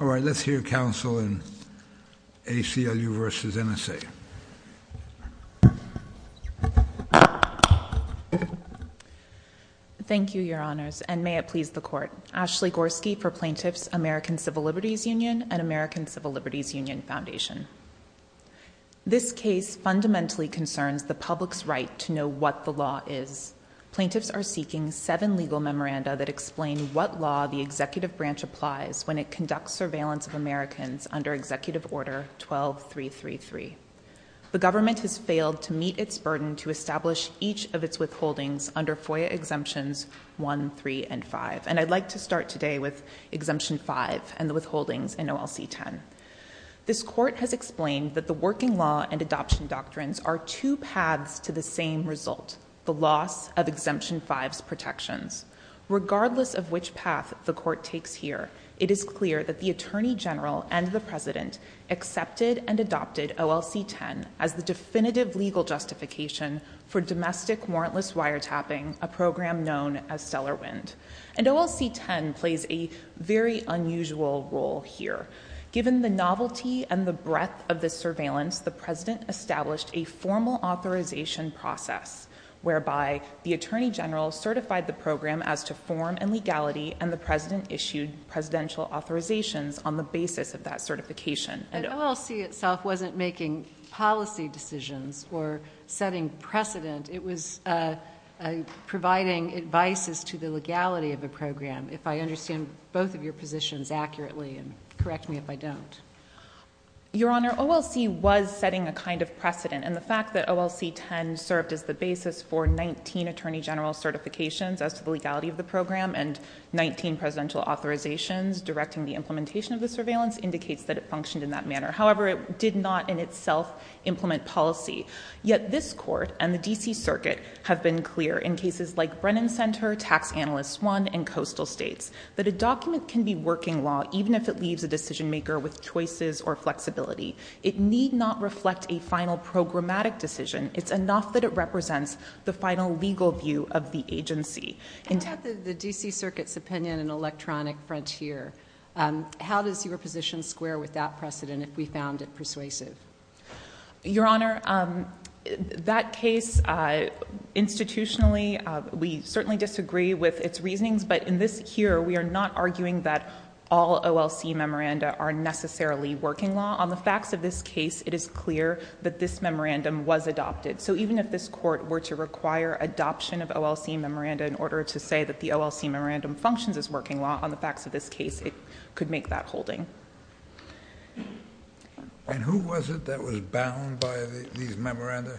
All right, let's hear counsel in ACLU versus NSA. Thank you, Your Honors, and may it please the court. Ashley Gorski for plaintiffs, American Civil Liberties Union and American Civil Liberties Union Foundation. This case fundamentally concerns the public's right to know what the law is. Plaintiffs are seeking seven legal memoranda that explain what law the executive branch applies when it conducts surveillance of Americans under Executive Order 12333. The government has failed to meet its burden to establish each of its withholdings under FOIA Exemptions 1, 3, and 5. And I'd like to start today with Exemption 5 and the withholdings in OLC 10. This court has explained that the working law and adoption doctrines are two paths to the same result, the loss of Exemption 5's protections. Regardless of which path the court takes here, it is clear that the Attorney General and the President accepted and adopted OLC 10 as the definitive legal justification for domestic warrantless wiretapping, a program known as Stellar Wind. And OLC 10 plays a very unusual role here. Given the novelty and the breadth of this surveillance, the President established a formal authorization process whereby the Attorney General certified the program as to form and legality and the President issued presidential authorizations on the basis of that certification. And OLC itself wasn't making policy decisions or setting precedent. It was providing advice as to the legality of the program. If I understand both of your positions accurately and correct me if I don't. Your Honor, OLC was setting a kind of precedent and the fact that OLC 10 served as the basis for 19 Attorney General certifications as to the legality of the program and 19 presidential authorizations directing the implementation of the surveillance indicates that it functioned in that manner. However, it did not in itself implement policy. Yet this court and the DC Circuit have been clear in cases like Brennan Center, Tax Analyst 1, and Coastal States that a document can be working law even if it leaves a decision maker with choices or flexibility. It need not reflect a final programmatic decision. It's enough that it represents the final legal view of the agency. In terms of the DC Circuit's opinion in Electronic Frontier, how does your position square with that precedent if we found it persuasive? Your Honor, that case institutionally, we certainly disagree with its reasonings, but in this here, we are not arguing that all OLC memoranda are necessarily working law. On the facts of this case, it is clear that this memorandum was adopted. So even if this court were to require adoption of OLC memoranda in order to say that the OLC memorandum functions as working law, on the facts of this case, it could make that holding. And who was it that was bound by these memoranda?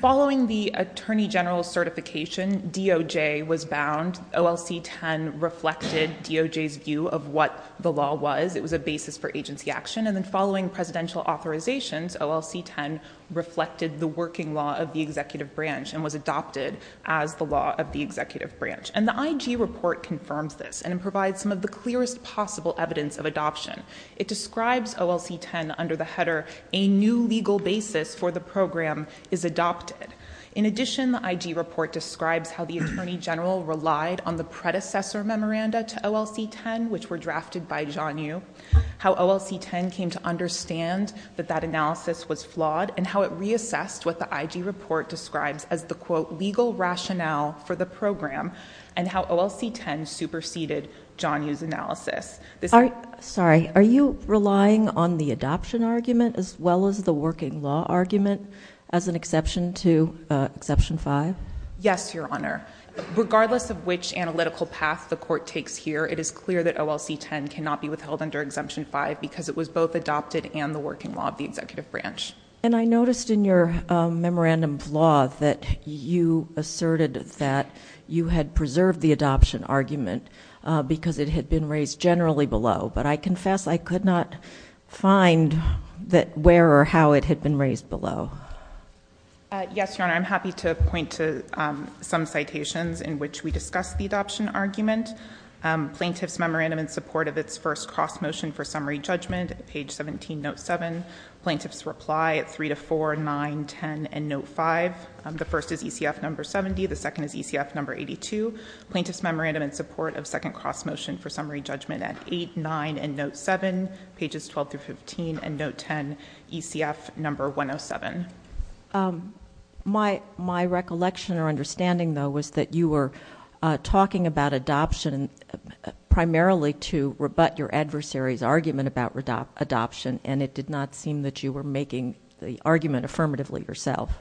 Following the Attorney General certification, DOJ was bound. OLC 10 reflected DOJ's view of what the law was. It was a basis for agency action. And then following presidential authorizations, OLC 10 reflected the working law of the executive branch and was adopted as the law of the executive branch. And the IG report confirms this and provides some of the clearest possible evidence of adoption. It describes OLC 10 under the header, a new legal basis for the program is adopted. In addition, the IG report describes how the Attorney General relied on the predecessor memoranda to OLC 10, which were drafted by John Yoo, how OLC 10 came to understand that that analysis was flawed and how it reassessed what the IG report describes as the quote, legal rationale for the program and how OLC 10 superseded John Yoo's analysis. Sorry, are you relying on the adoption argument as well as the exception 5? Yes, Your Honor. Regardless of which analytical path the court takes here, it is clear that OLC 10 cannot be withheld under exemption 5 because it was both adopted and the working law of the executive branch. And I noticed in your memorandum of law that you asserted that you had preserved the adoption argument because it had been raised generally below, but I confess I could not find that where or how it had been raised below. Yes, Your Honor. I'm happy to point to some citations in which we discussed the adoption argument. Plaintiff's memorandum in support of its first cross motion for summary judgment at page 17, note 7. Plaintiff's reply at 3 to 4, 9, 10 and note 5. The first is ECF number 70. The second is ECF number 82. Plaintiff's memorandum in support of second cross motion for summary judgment at 8, 9 and note 7, pages 12 through 15 and note 10, ECF number 107. My, my recollection or understanding though, was that you were talking about adoption primarily to rebut your adversary's argument about adoption, and it did not seem that you were making the argument affirmatively yourself.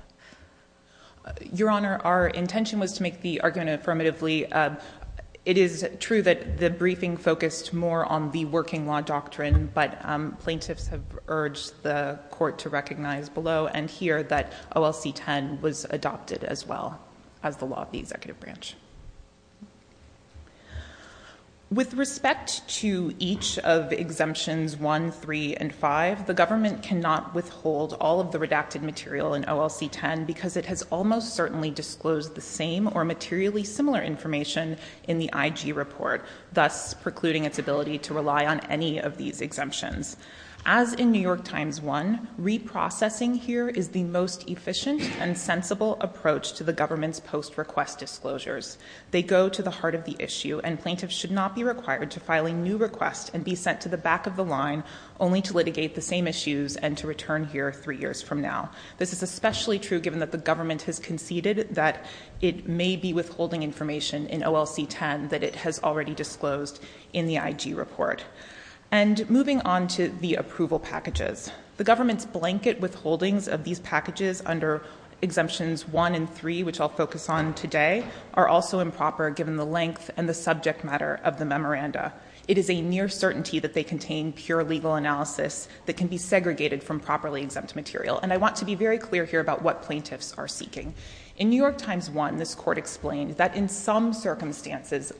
Your Honor, our intention was to make the argument affirmatively. It is true that the briefing focused more on the working law doctrine, but plaintiffs have urged the court to recognize below and hear that OLC 10 was adopted as well as the law of the executive branch. With respect to each of exemptions 1, 3 and 5, the government cannot withhold all of the redacted material in OLC 10 because it has almost certainly disclosed the same or materially similar information in the IG report, thus precluding its ability to rely on any of these exemptions. As in New York Times 1, reprocessing here is the most efficient and sensible approach to the government's post request disclosures. They go to the heart of the issue and plaintiffs should not be required to file a new request and be sent to the back of the line only to litigate the same issues and to return here three years from now. This is especially true given that the government has conceded that it may be withholding information in OLC 10 that it has already disclosed in the IG report. And moving on to the approval packages, the government's blanket withholdings of these packages under exemptions 1 and 3, which I'll focus on today, are also improper given the length and the subject matter of the memoranda. It is a near certainty that they contain pure legal analysis that can be segregated from properly exempt material. And I want to be very clear here about what plaintiffs are seeking. In New York Times 1, this court explained that in some circumstances, the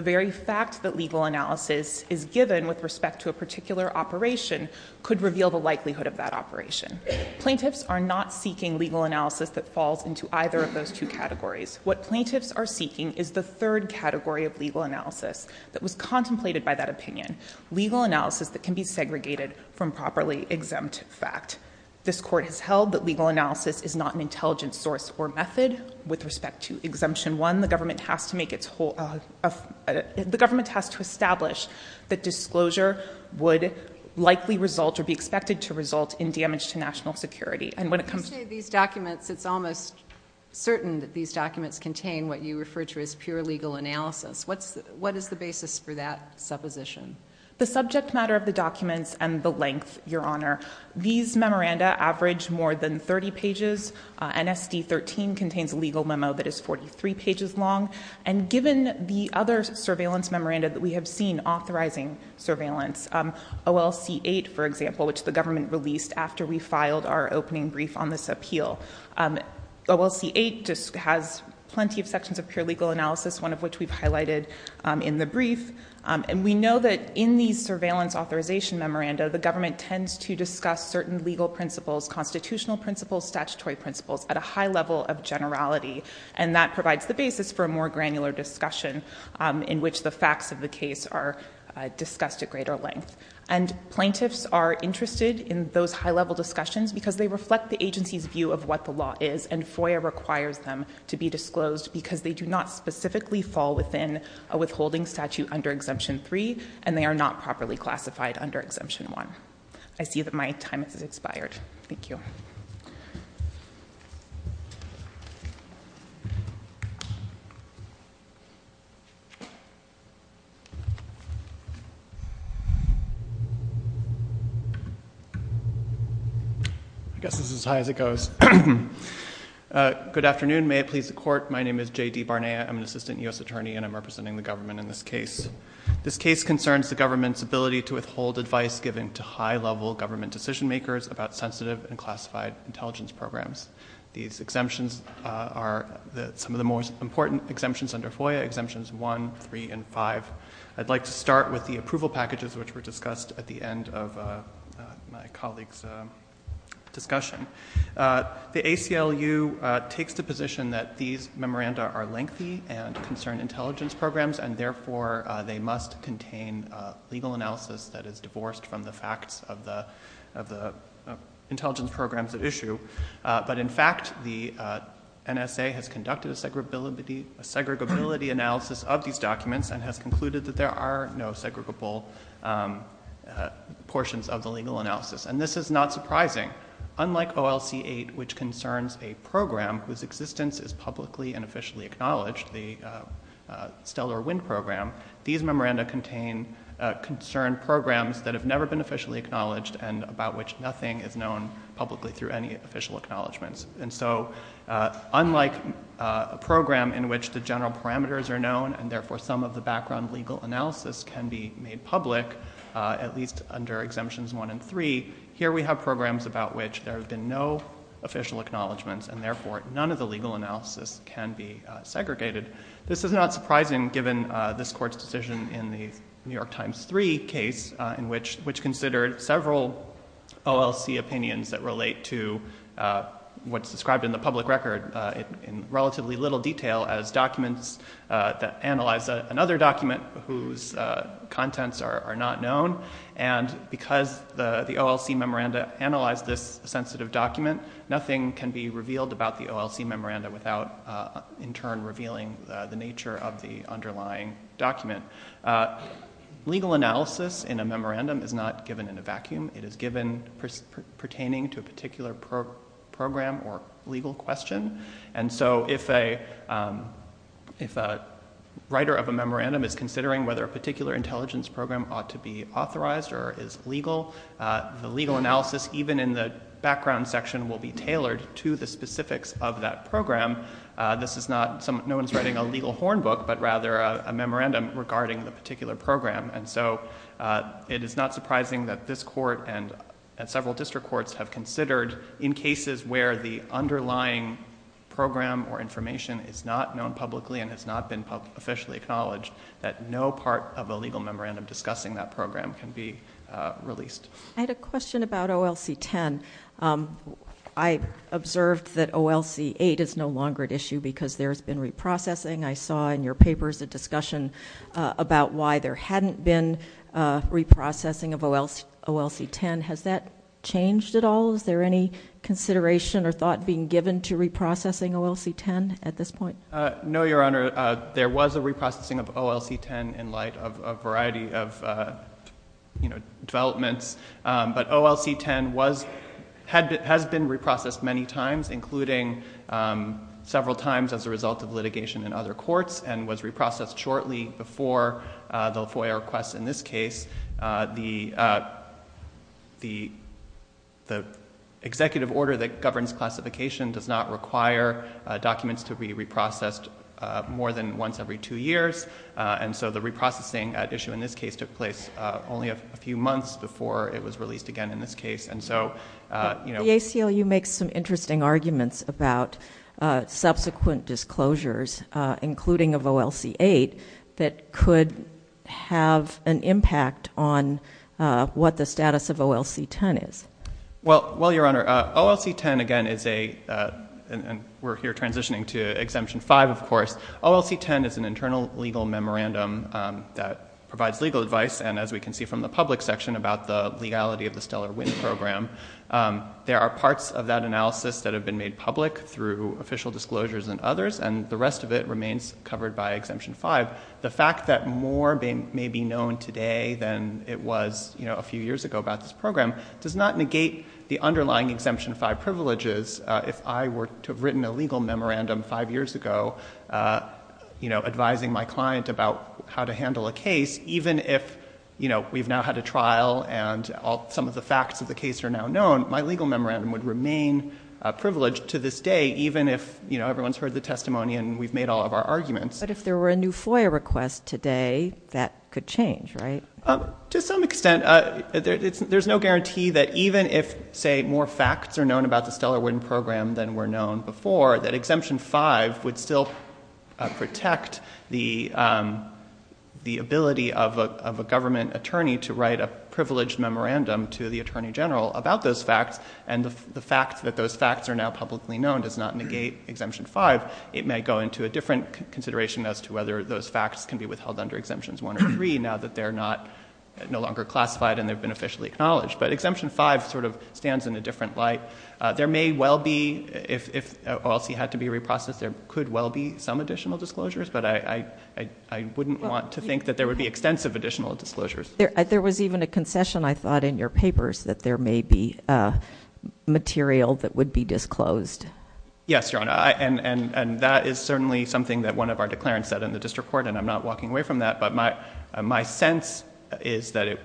very fact that legal analysis is given with respect to a particular operation could reveal the likelihood of that operation. Plaintiffs are not seeking legal analysis that falls into either of those two categories. What plaintiffs are seeking is the third category of legal analysis that was contemplated by that opinion, legal analysis that can be segregated from properly exempt fact. This court has held that legal analysis is not an intelligent source or good source. With respect to Exemption 1, the government has to make its whole of the government has to establish that disclosure would likely result or be expected to result in damage to national security. And when it comes to these documents, it's almost certain that these documents contain what you refer to as pure legal analysis. What's what is the basis for that supposition? The subject matter of the documents and the length, Your Honor. These memoranda average more than 30 pages. NSD 13 contains a legal memo that is 43 pages long. And given the other surveillance memoranda that we have seen authorizing surveillance, OLC 8, for example, which the government released after we filed our opening brief on this appeal. OLC 8 just has plenty of sections of pure legal analysis, one of which we've highlighted in the brief. And we know that in these surveillance authorization memoranda, the government tends to discuss certain legal principles, constitutional principles, statutory principles at a high level of generality. And that provides the basis for a more granular discussion in which the facts of the case are discussed at greater length. And plaintiffs are interested in those high-level discussions because they reflect the agency's view of what the law is, and FOIA requires them to be disclosed because they do not specifically fall within a withholding statute under Exemption 3, and they are not properly classified under Exemption 1. I see that my time has expired. Thank you. I guess this is as high as it goes. Good afternoon. May it please the Court. My name is J.D. Barnea. I'm an assistant U.S. attorney and I'm representing the government in this case. This case concerns the government's ability to withhold advice given to high-level government decision-makers about sensitive and classified intelligence programs. These exemptions are some of the most important exemptions under FOIA, Exemptions 1, 3, and 5. I'd like to start with the approval packages which were discussed at the end of my colleague's discussion. The ACLU takes the position that these memoranda are lengthy and concern intelligence programs and therefore they must contain legal analysis that is divorced from the facts of the intelligence programs at issue, but in fact the NSA has conducted a segregability analysis of these documents and has concluded that there are no segregable portions of the legal analysis, and this is not surprising. Unlike OLC-8, which concerns a program whose existence is publicly and officially acknowledged, the Stellar Wind Program, these memoranda contain concerned programs that have never been officially acknowledged and about which nothing is known publicly through any official acknowledgments. And so unlike a program in which the general parameters are known and therefore some of the background legal analysis can be made public, at least under Exemptions 1 and 3, here we have programs about which there have been no official acknowledgments and therefore none of the legal analysis can be segregated. This is not surprising given this Court's decision in the New York Times 3 case in which considered several OLC opinions that relate to what's described in the public record in relatively little detail as documents that analyze another document whose contents are not known, and because the OLC memoranda is not given in a vacuum, it is given pertaining to a particular program or legal question, and so if a writer of a memorandum is considering whether a particular intelligence program ought to be authorized or is legal, the legal analysis, even in the background section, will be tailored to the specifics of that program. This is not—no one's writing a legal horn book, but rather a memorandum regarding the particular program, and so it is not surprising that this Court and several district courts have considered, in cases where the underlying program or information is not known publicly and has not been officially acknowledged, that no part of a legal memorandum discussing that OLC 10—I observed that OLC 8 is no longer at issue because there's been reprocessing. I saw in your papers a discussion about why there hadn't been reprocessing of OLC 10. Has that changed at all? Is there any consideration or thought being given to reprocessing OLC 10 at this point? No, Your Honor. There was a reprocessing of OLC 10 in light of a variety of developments, but OLC 10 has been reprocessed many times, including several times as a result of litigation in other courts and was reprocessed shortly before the FOIA request in this case. The executive order that governs classification does not require documents to be reprocessed more than once every two years, and so the reprocessing at issue in this case took place only a few months before it was released again in this case. The ACLU makes some interesting arguments about subsequent disclosures, including of OLC 8, that could have an impact on what the status of OLC 10 is. Well, Your Honor, OLC 10 again is a—and we're here transitioning to Exemption 5, of course—OLC 10 is an internal legal memorandum that provides legal advice, and as we can see from the public section about the legality of the Stellar Wind program, there are parts of that analysis that have been made public through official disclosures and others, and the rest of it remains covered by Exemption 5. The fact that more may be known today than it was a few years ago about this program does not negate the underlying Exemption 5 privileges. If I were to have written a legal memorandum five years ago, you know, advising my client about how to handle a case, even if, you know, we've now had a trial and all some of the facts of the case are now known, my legal memorandum would remain privileged to this day, even if, you know, everyone's heard the testimony and we've made all of our arguments. But if there were a new FOIA request today, that could change, right? To some extent. There's no guarantee that even if, say, more facts are known about the Stellar Wind program than were known before, that Exemption 5 would still protect the ability of a government attorney to write a privileged memorandum to the Attorney General about those facts, and the fact that those facts are now publicly known does not negate Exemption 5. It may go into a different consideration as to whether those facts can be withheld under Exemptions 1 or 3, now that they're no longer classified and they've been officially acknowledged. But Exemption 5 sort of stands in a different light. There may well be, if OLC had to be reprocessed, there could well be some additional disclosures, but I wouldn't want to think that there would be extensive additional disclosures. There was even a concession, I thought, in your papers that there may be material that would be disclosed. Yes, Your Honor, and that is certainly something that one of our declarants said in the District Court, and I'm not walking away from that, but my sense is that it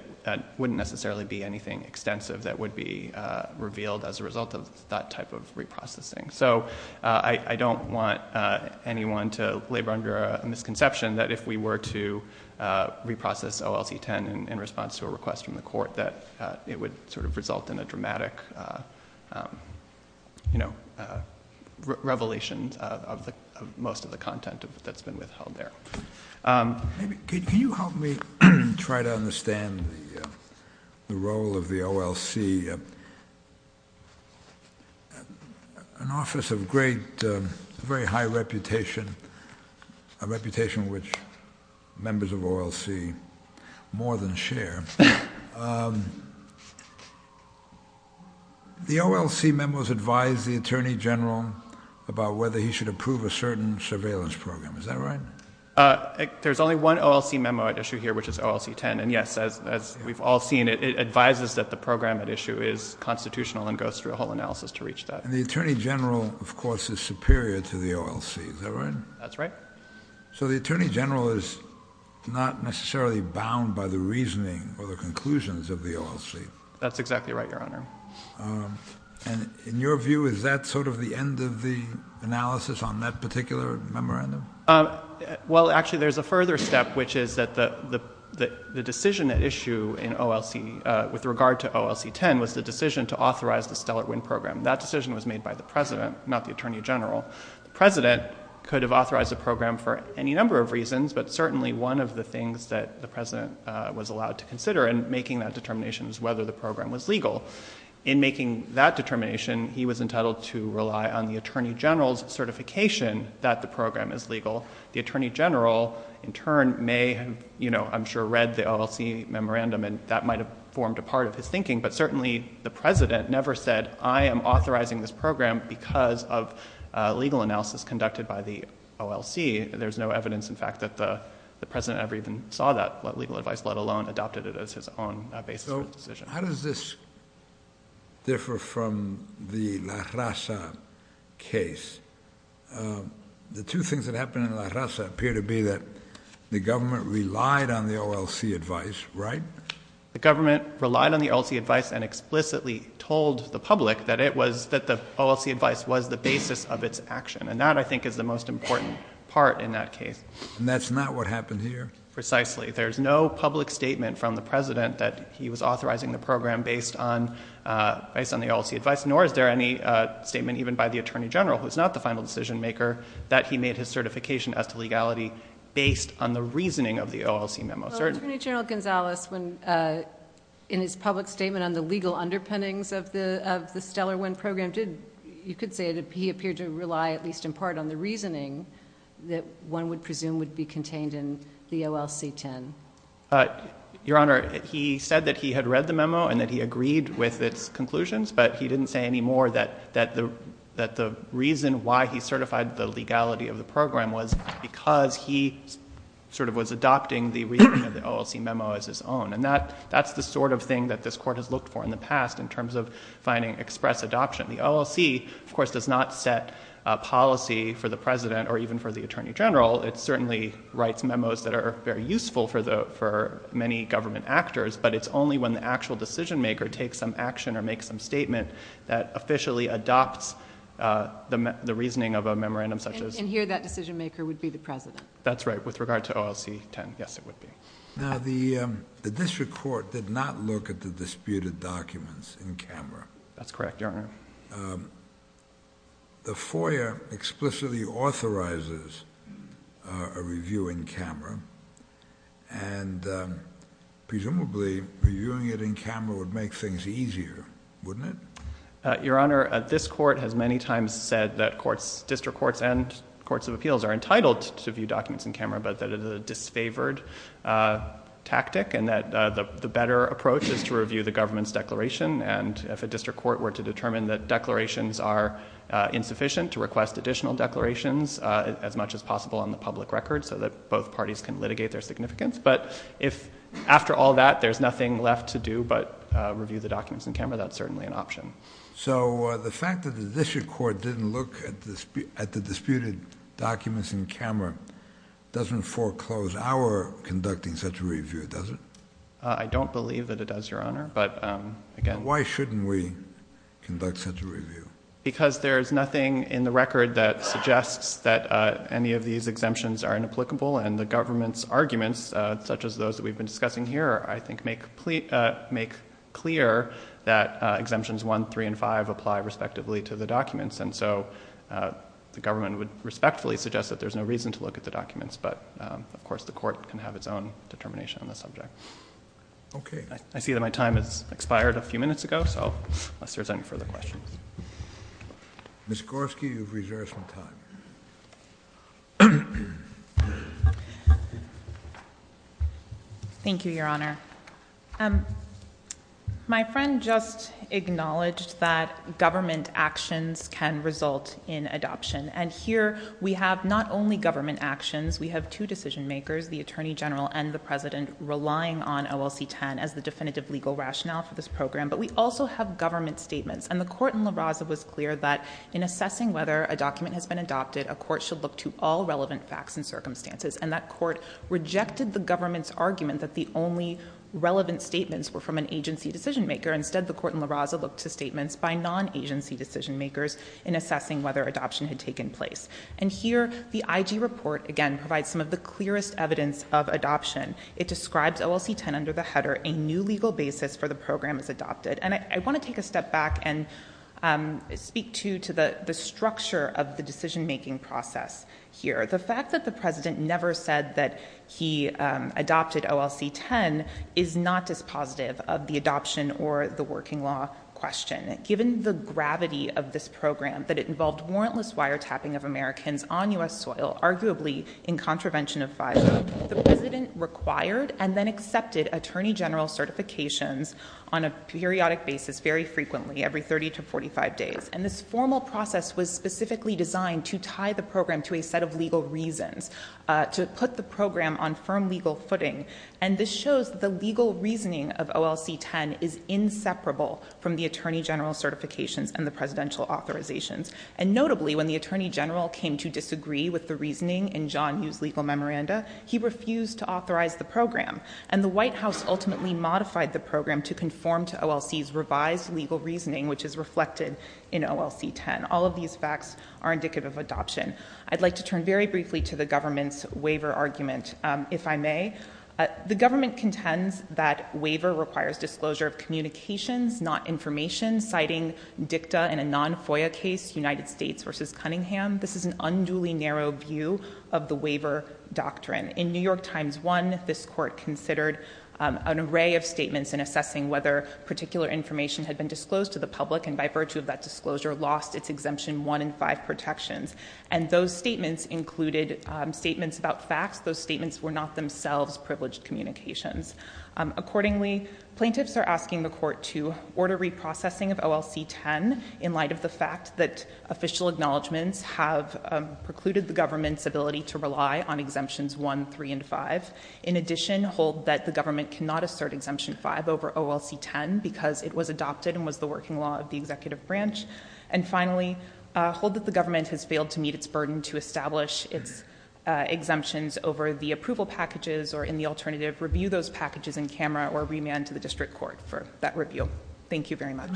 wouldn't necessarily be anything extensive that would be revealed as a result of that type of reprocessing. So I don't want anyone to labor under a misconception that if we were to reprocess OLC 10 in response to a request from the court, that it would sort of result in a dramatic, you know, revelation of most of the content that's been withheld there. Can you help me try to understand the role of the OLC? An office of great, very high reputation, a reputation which members of OLC more than share. The OLC memos advise the Attorney General about whether he should approve a certain surveillance program. Is that right? There's only one OLC memo at issue here, which is OLC 10, and yes, as we've all seen, it advises that the program at issue is constitutional and goes through a whole analysis to reach that. And the Attorney General, of course, is superior to the OLC. Is that right? That's right. So the Attorney General is not necessarily bound by the reasoning or the conclusions of the OLC. That's exactly right, Your Honor. And in your view, is that sort of the end of the analysis on that particular memorandum? Well, actually, there's a further step, which is that the decision at issue in OLC, with regard to OLC 10, was the decision to authorize the Stellar Wind program. That decision was made by the President, not the Attorney General. The President could have authorized the program for any number of reasons, but certainly one of the things that the President was allowed to consider in making that determination is whether the program was legal. In making that determination, he was entitled to rely on the The Attorney General, in turn, may have, you know, I'm sure, read the OLC memorandum and that might have formed a part of his thinking, but certainly the President never said, I am authorizing this program because of legal analysis conducted by the OLC. There's no evidence, in fact, that the President ever even saw that legal advice, let alone adopted it as his own basis for the decision. How does this differ from the La Raza case? The two things that happened in La Raza appear to be that the government relied on the OLC advice, right? The government relied on the OLC advice and explicitly told the public that it was, that the OLC advice was the basis of its action. And that, I think, is the most important part in that case. And that's not what happened here? Precisely. There's no public statement from the President that he was authorizing the program based on the OLC advice, nor is there any statement even by the Attorney General, who's not the final decision maker, that he made his certification as to legality based on the reasoning of the OLC memo. Attorney General Gonzalez, when, in his public statement on the legal underpinnings of the, of the Stellar Wind program, did, you could say that he appeared to rely, at least in part, on the reasoning that one would presume would be contained in the OLC 10. Your Honor, he said that he had read the memo and that he agreed with its story that, that the, that the reason why he certified the legality of the program was because he sort of was adopting the reasoning of the OLC memo as his own. And that, that's the sort of thing that this Court has looked for in the past in terms of finding express adoption. The OLC, of course, does not set a policy for the President or even for the Attorney General. It certainly writes memos that are very useful for the, for many government actors, but it's only when the actual decision maker takes some statement that officially adopts the, the reasoning of a memorandum such as... And here, that decision maker would be the President. That's right. With regard to OLC 10, yes, it would be. Now, the, the District Court did not look at the disputed documents in camera. That's correct, Your Honor. The FOIA explicitly authorizes a review in camera, and presumably reviewing it in camera would make things easier, wouldn't it? Your Honor, this Court has many times said that courts, District Courts and Courts of Appeals are entitled to view documents in camera, but that is a disfavored tactic and that the, the better approach is to review the government's declaration. And if a District Court were to determine that declarations are insufficient to request additional declarations as much as possible on the public record so that both parties can litigate their significance. But if, after all that, there's nothing left to do but review the documents in camera, that's certainly an option. So, the fact that the District Court didn't look at the, at the disputed documents in camera doesn't foreclose our conducting such a review, does it? I don't believe that it does, Your Honor, but again... Why shouldn't we conduct such a review? Because there's nothing in the record that suggests that any of these exemptions are inapplicable, and the government's arguments, such as those that we've been discussing here, I think, make clear that exemptions 1, 3, and 5 apply respectively to the documents. And so, the government would respectfully suggest that there's no reason to look at the documents, but, of course, the Court can have its own determination on the subject. Okay. I see that my time has expired a few minutes ago, so unless there's any further questions. Ms. Gorski, you've reserved some time. Thank you, Your Honor. My friend just acknowledged that government actions can result in adoption, and here we have not only government actions, we have two decision makers, the Attorney General and the President, relying on OLC-10 as the definitive legal rationale for this program, but we also have government statements, and the Court in La Raza was clear that, in assessing whether a document has been adopted, a court should look to all relevant facts and circumstances, and that court rejected the government's argument that the only relevant statements were from an agency decision maker. Instead, the Court in La Raza looked to statements by non-agency decision makers in assessing whether adoption had taken place. And here, the IG report, again, provides some of the clearest evidence of adoption. It describes OLC-10 under the header, a new legal basis for the program as adopted, and I want to take a step back and speak, too, to the structure of the decision-making process here. The fact that the President never said that he adopted OLC-10 is not dispositive of the adoption or the working law question. Given the gravity of this program, that it involved warrantless wiretapping of Americans on U.S. soil, arguably in contravention of FISA, the President required and then accepted Attorney General certifications on a periodic basis, very frequently, every 30 to 45 days. And this formal process was specifically designed to tie the program to a set of legal reasons, to put the program on firm legal footing. And this shows that the legal reasoning of OLC-10 is inseparable from the Attorney General certifications and the Presidential authorizations. And notably, when the Attorney General came to disagree with the reasoning in John Hu's legal memoranda, he refused to authorize the program. And the White House refused to authorize the program to conform to OLC's revised legal reasoning, which is reflected in OLC-10. All of these facts are indicative of adoption. I'd like to turn very briefly to the government's waiver argument, if I may. The government contends that waiver requires disclosure of communications, not information, citing dicta in a non-FOIA case, United States v. Cunningham. This is an unduly narrow view of the waiver doctrine. In New York Times 1, this court considered an array of statements in assessing whether particular information had been disclosed to the public, and by virtue of that disclosure, lost its exemption 1 and 5 protections. And those statements included statements about facts. Those statements were not themselves privileged communications. Accordingly, plaintiffs are asking the court to order reprocessing of OLC-10 in light of the fact that official acknowledgments have precluded the government's ability to rely on OLC-10. The government cannot assert exemption 5 over OLC-10 because it was adopted and was the working law of the executive branch. And finally, hold that the government has failed to meet its burden to establish its exemptions over the approval packages or, in the alternative, review those packages in camera or remand to the district court for that review. Thank you very much.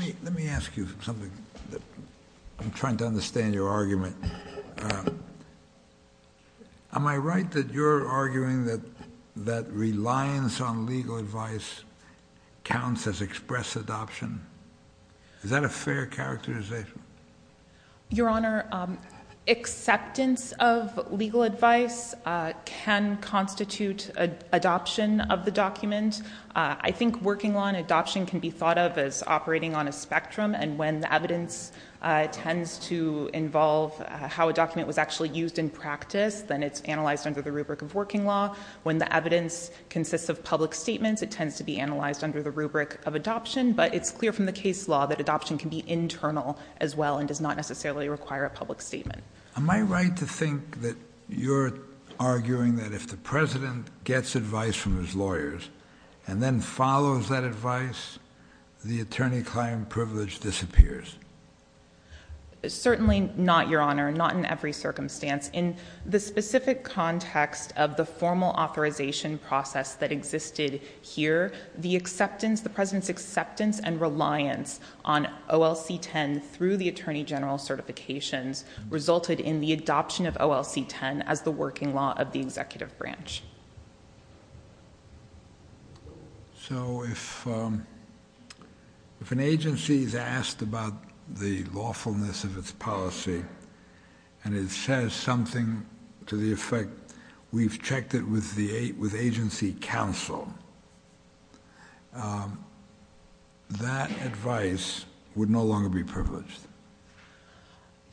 Am I right that you're arguing that reliance on legal advice counts as express adoption? Is that a fair characterization? Your Honor, acceptance of legal advice can constitute adoption of the document. I think working law and adoption can be thought of as different. When it comes to how a document was actually used in practice, then it's analyzed under the rubric of working law. When the evidence consists of public statements, it tends to be analyzed under the rubric of adoption. But it's clear from the case law that adoption can be internal as well and does not necessarily require a public statement. Am I right to think that you're arguing that if the President gets advice from his lawyers and then follows that advice, the attorney client privilege disappears? Certainly not, Your Honor. Not in every circumstance. In the specific context of the formal authorization process that existed here, the acceptance, the President's acceptance and reliance on OLC-10 through the Attorney General certifications resulted in the adoption of OLC-10 as the working law of the executive branch. So if an agency is asked about the lawfulness of its policy and it says something to the effect, we've checked it with agency counsel, that advice would no longer be privileged.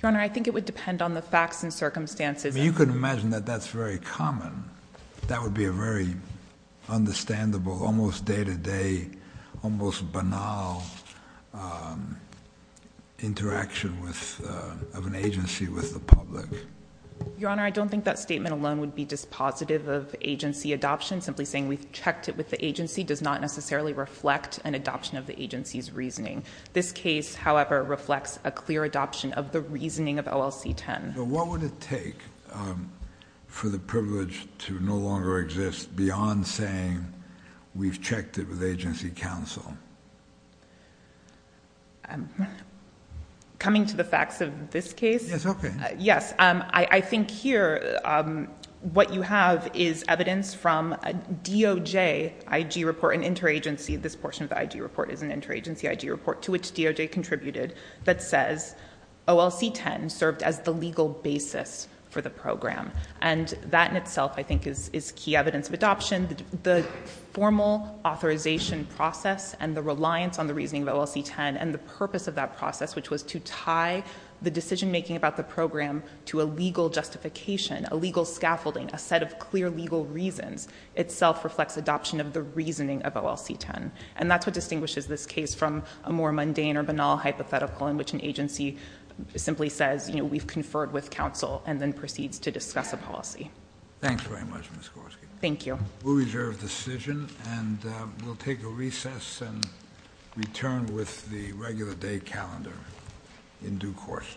Your Honor, I think it would depend on the facts and circumstances. You can imagine that that's very common. That would be a very understandable, almost day-to-day, almost banal interaction of an agency with the public. Your Honor, I don't think that statement alone would be dispositive of agency adoption. Simply saying we've checked it with the agency does not necessarily reflect an adoption of the agency's reasoning. This case, however, reflects a clear adoption of the reasoning of OLC-10. So what would it take for the privilege to no longer exist beyond saying we've checked it with agency counsel? Coming to the facts of this case... Yes, okay. Yes. I think here, what you have is evidence from a DOJ IG report, an interagency, this portion of the IG report is an interagency IG report to which DOJ contributed, that says OLC-10 served as the legal basis for the program. And that in itself, I think, is key evidence of adoption. The formal authorization process and the reliance on the reasoning of OLC-10 and the purpose of that process, which was to tie the decision making about the program to a legal justification, a legal scaffolding, a set of clear legal reasons, itself reflects adoption of the reasoning of OLC-10. And that's what distinguishes this case from a more mundane or banal hypothetical in which an agency simply says, you know, we've conferred with counsel and then proceeds to discuss a policy. Thanks very much, Ms. Gorski. Thank you. We'll reserve the decision and we'll take a recess and return with the regular day calendar in due course.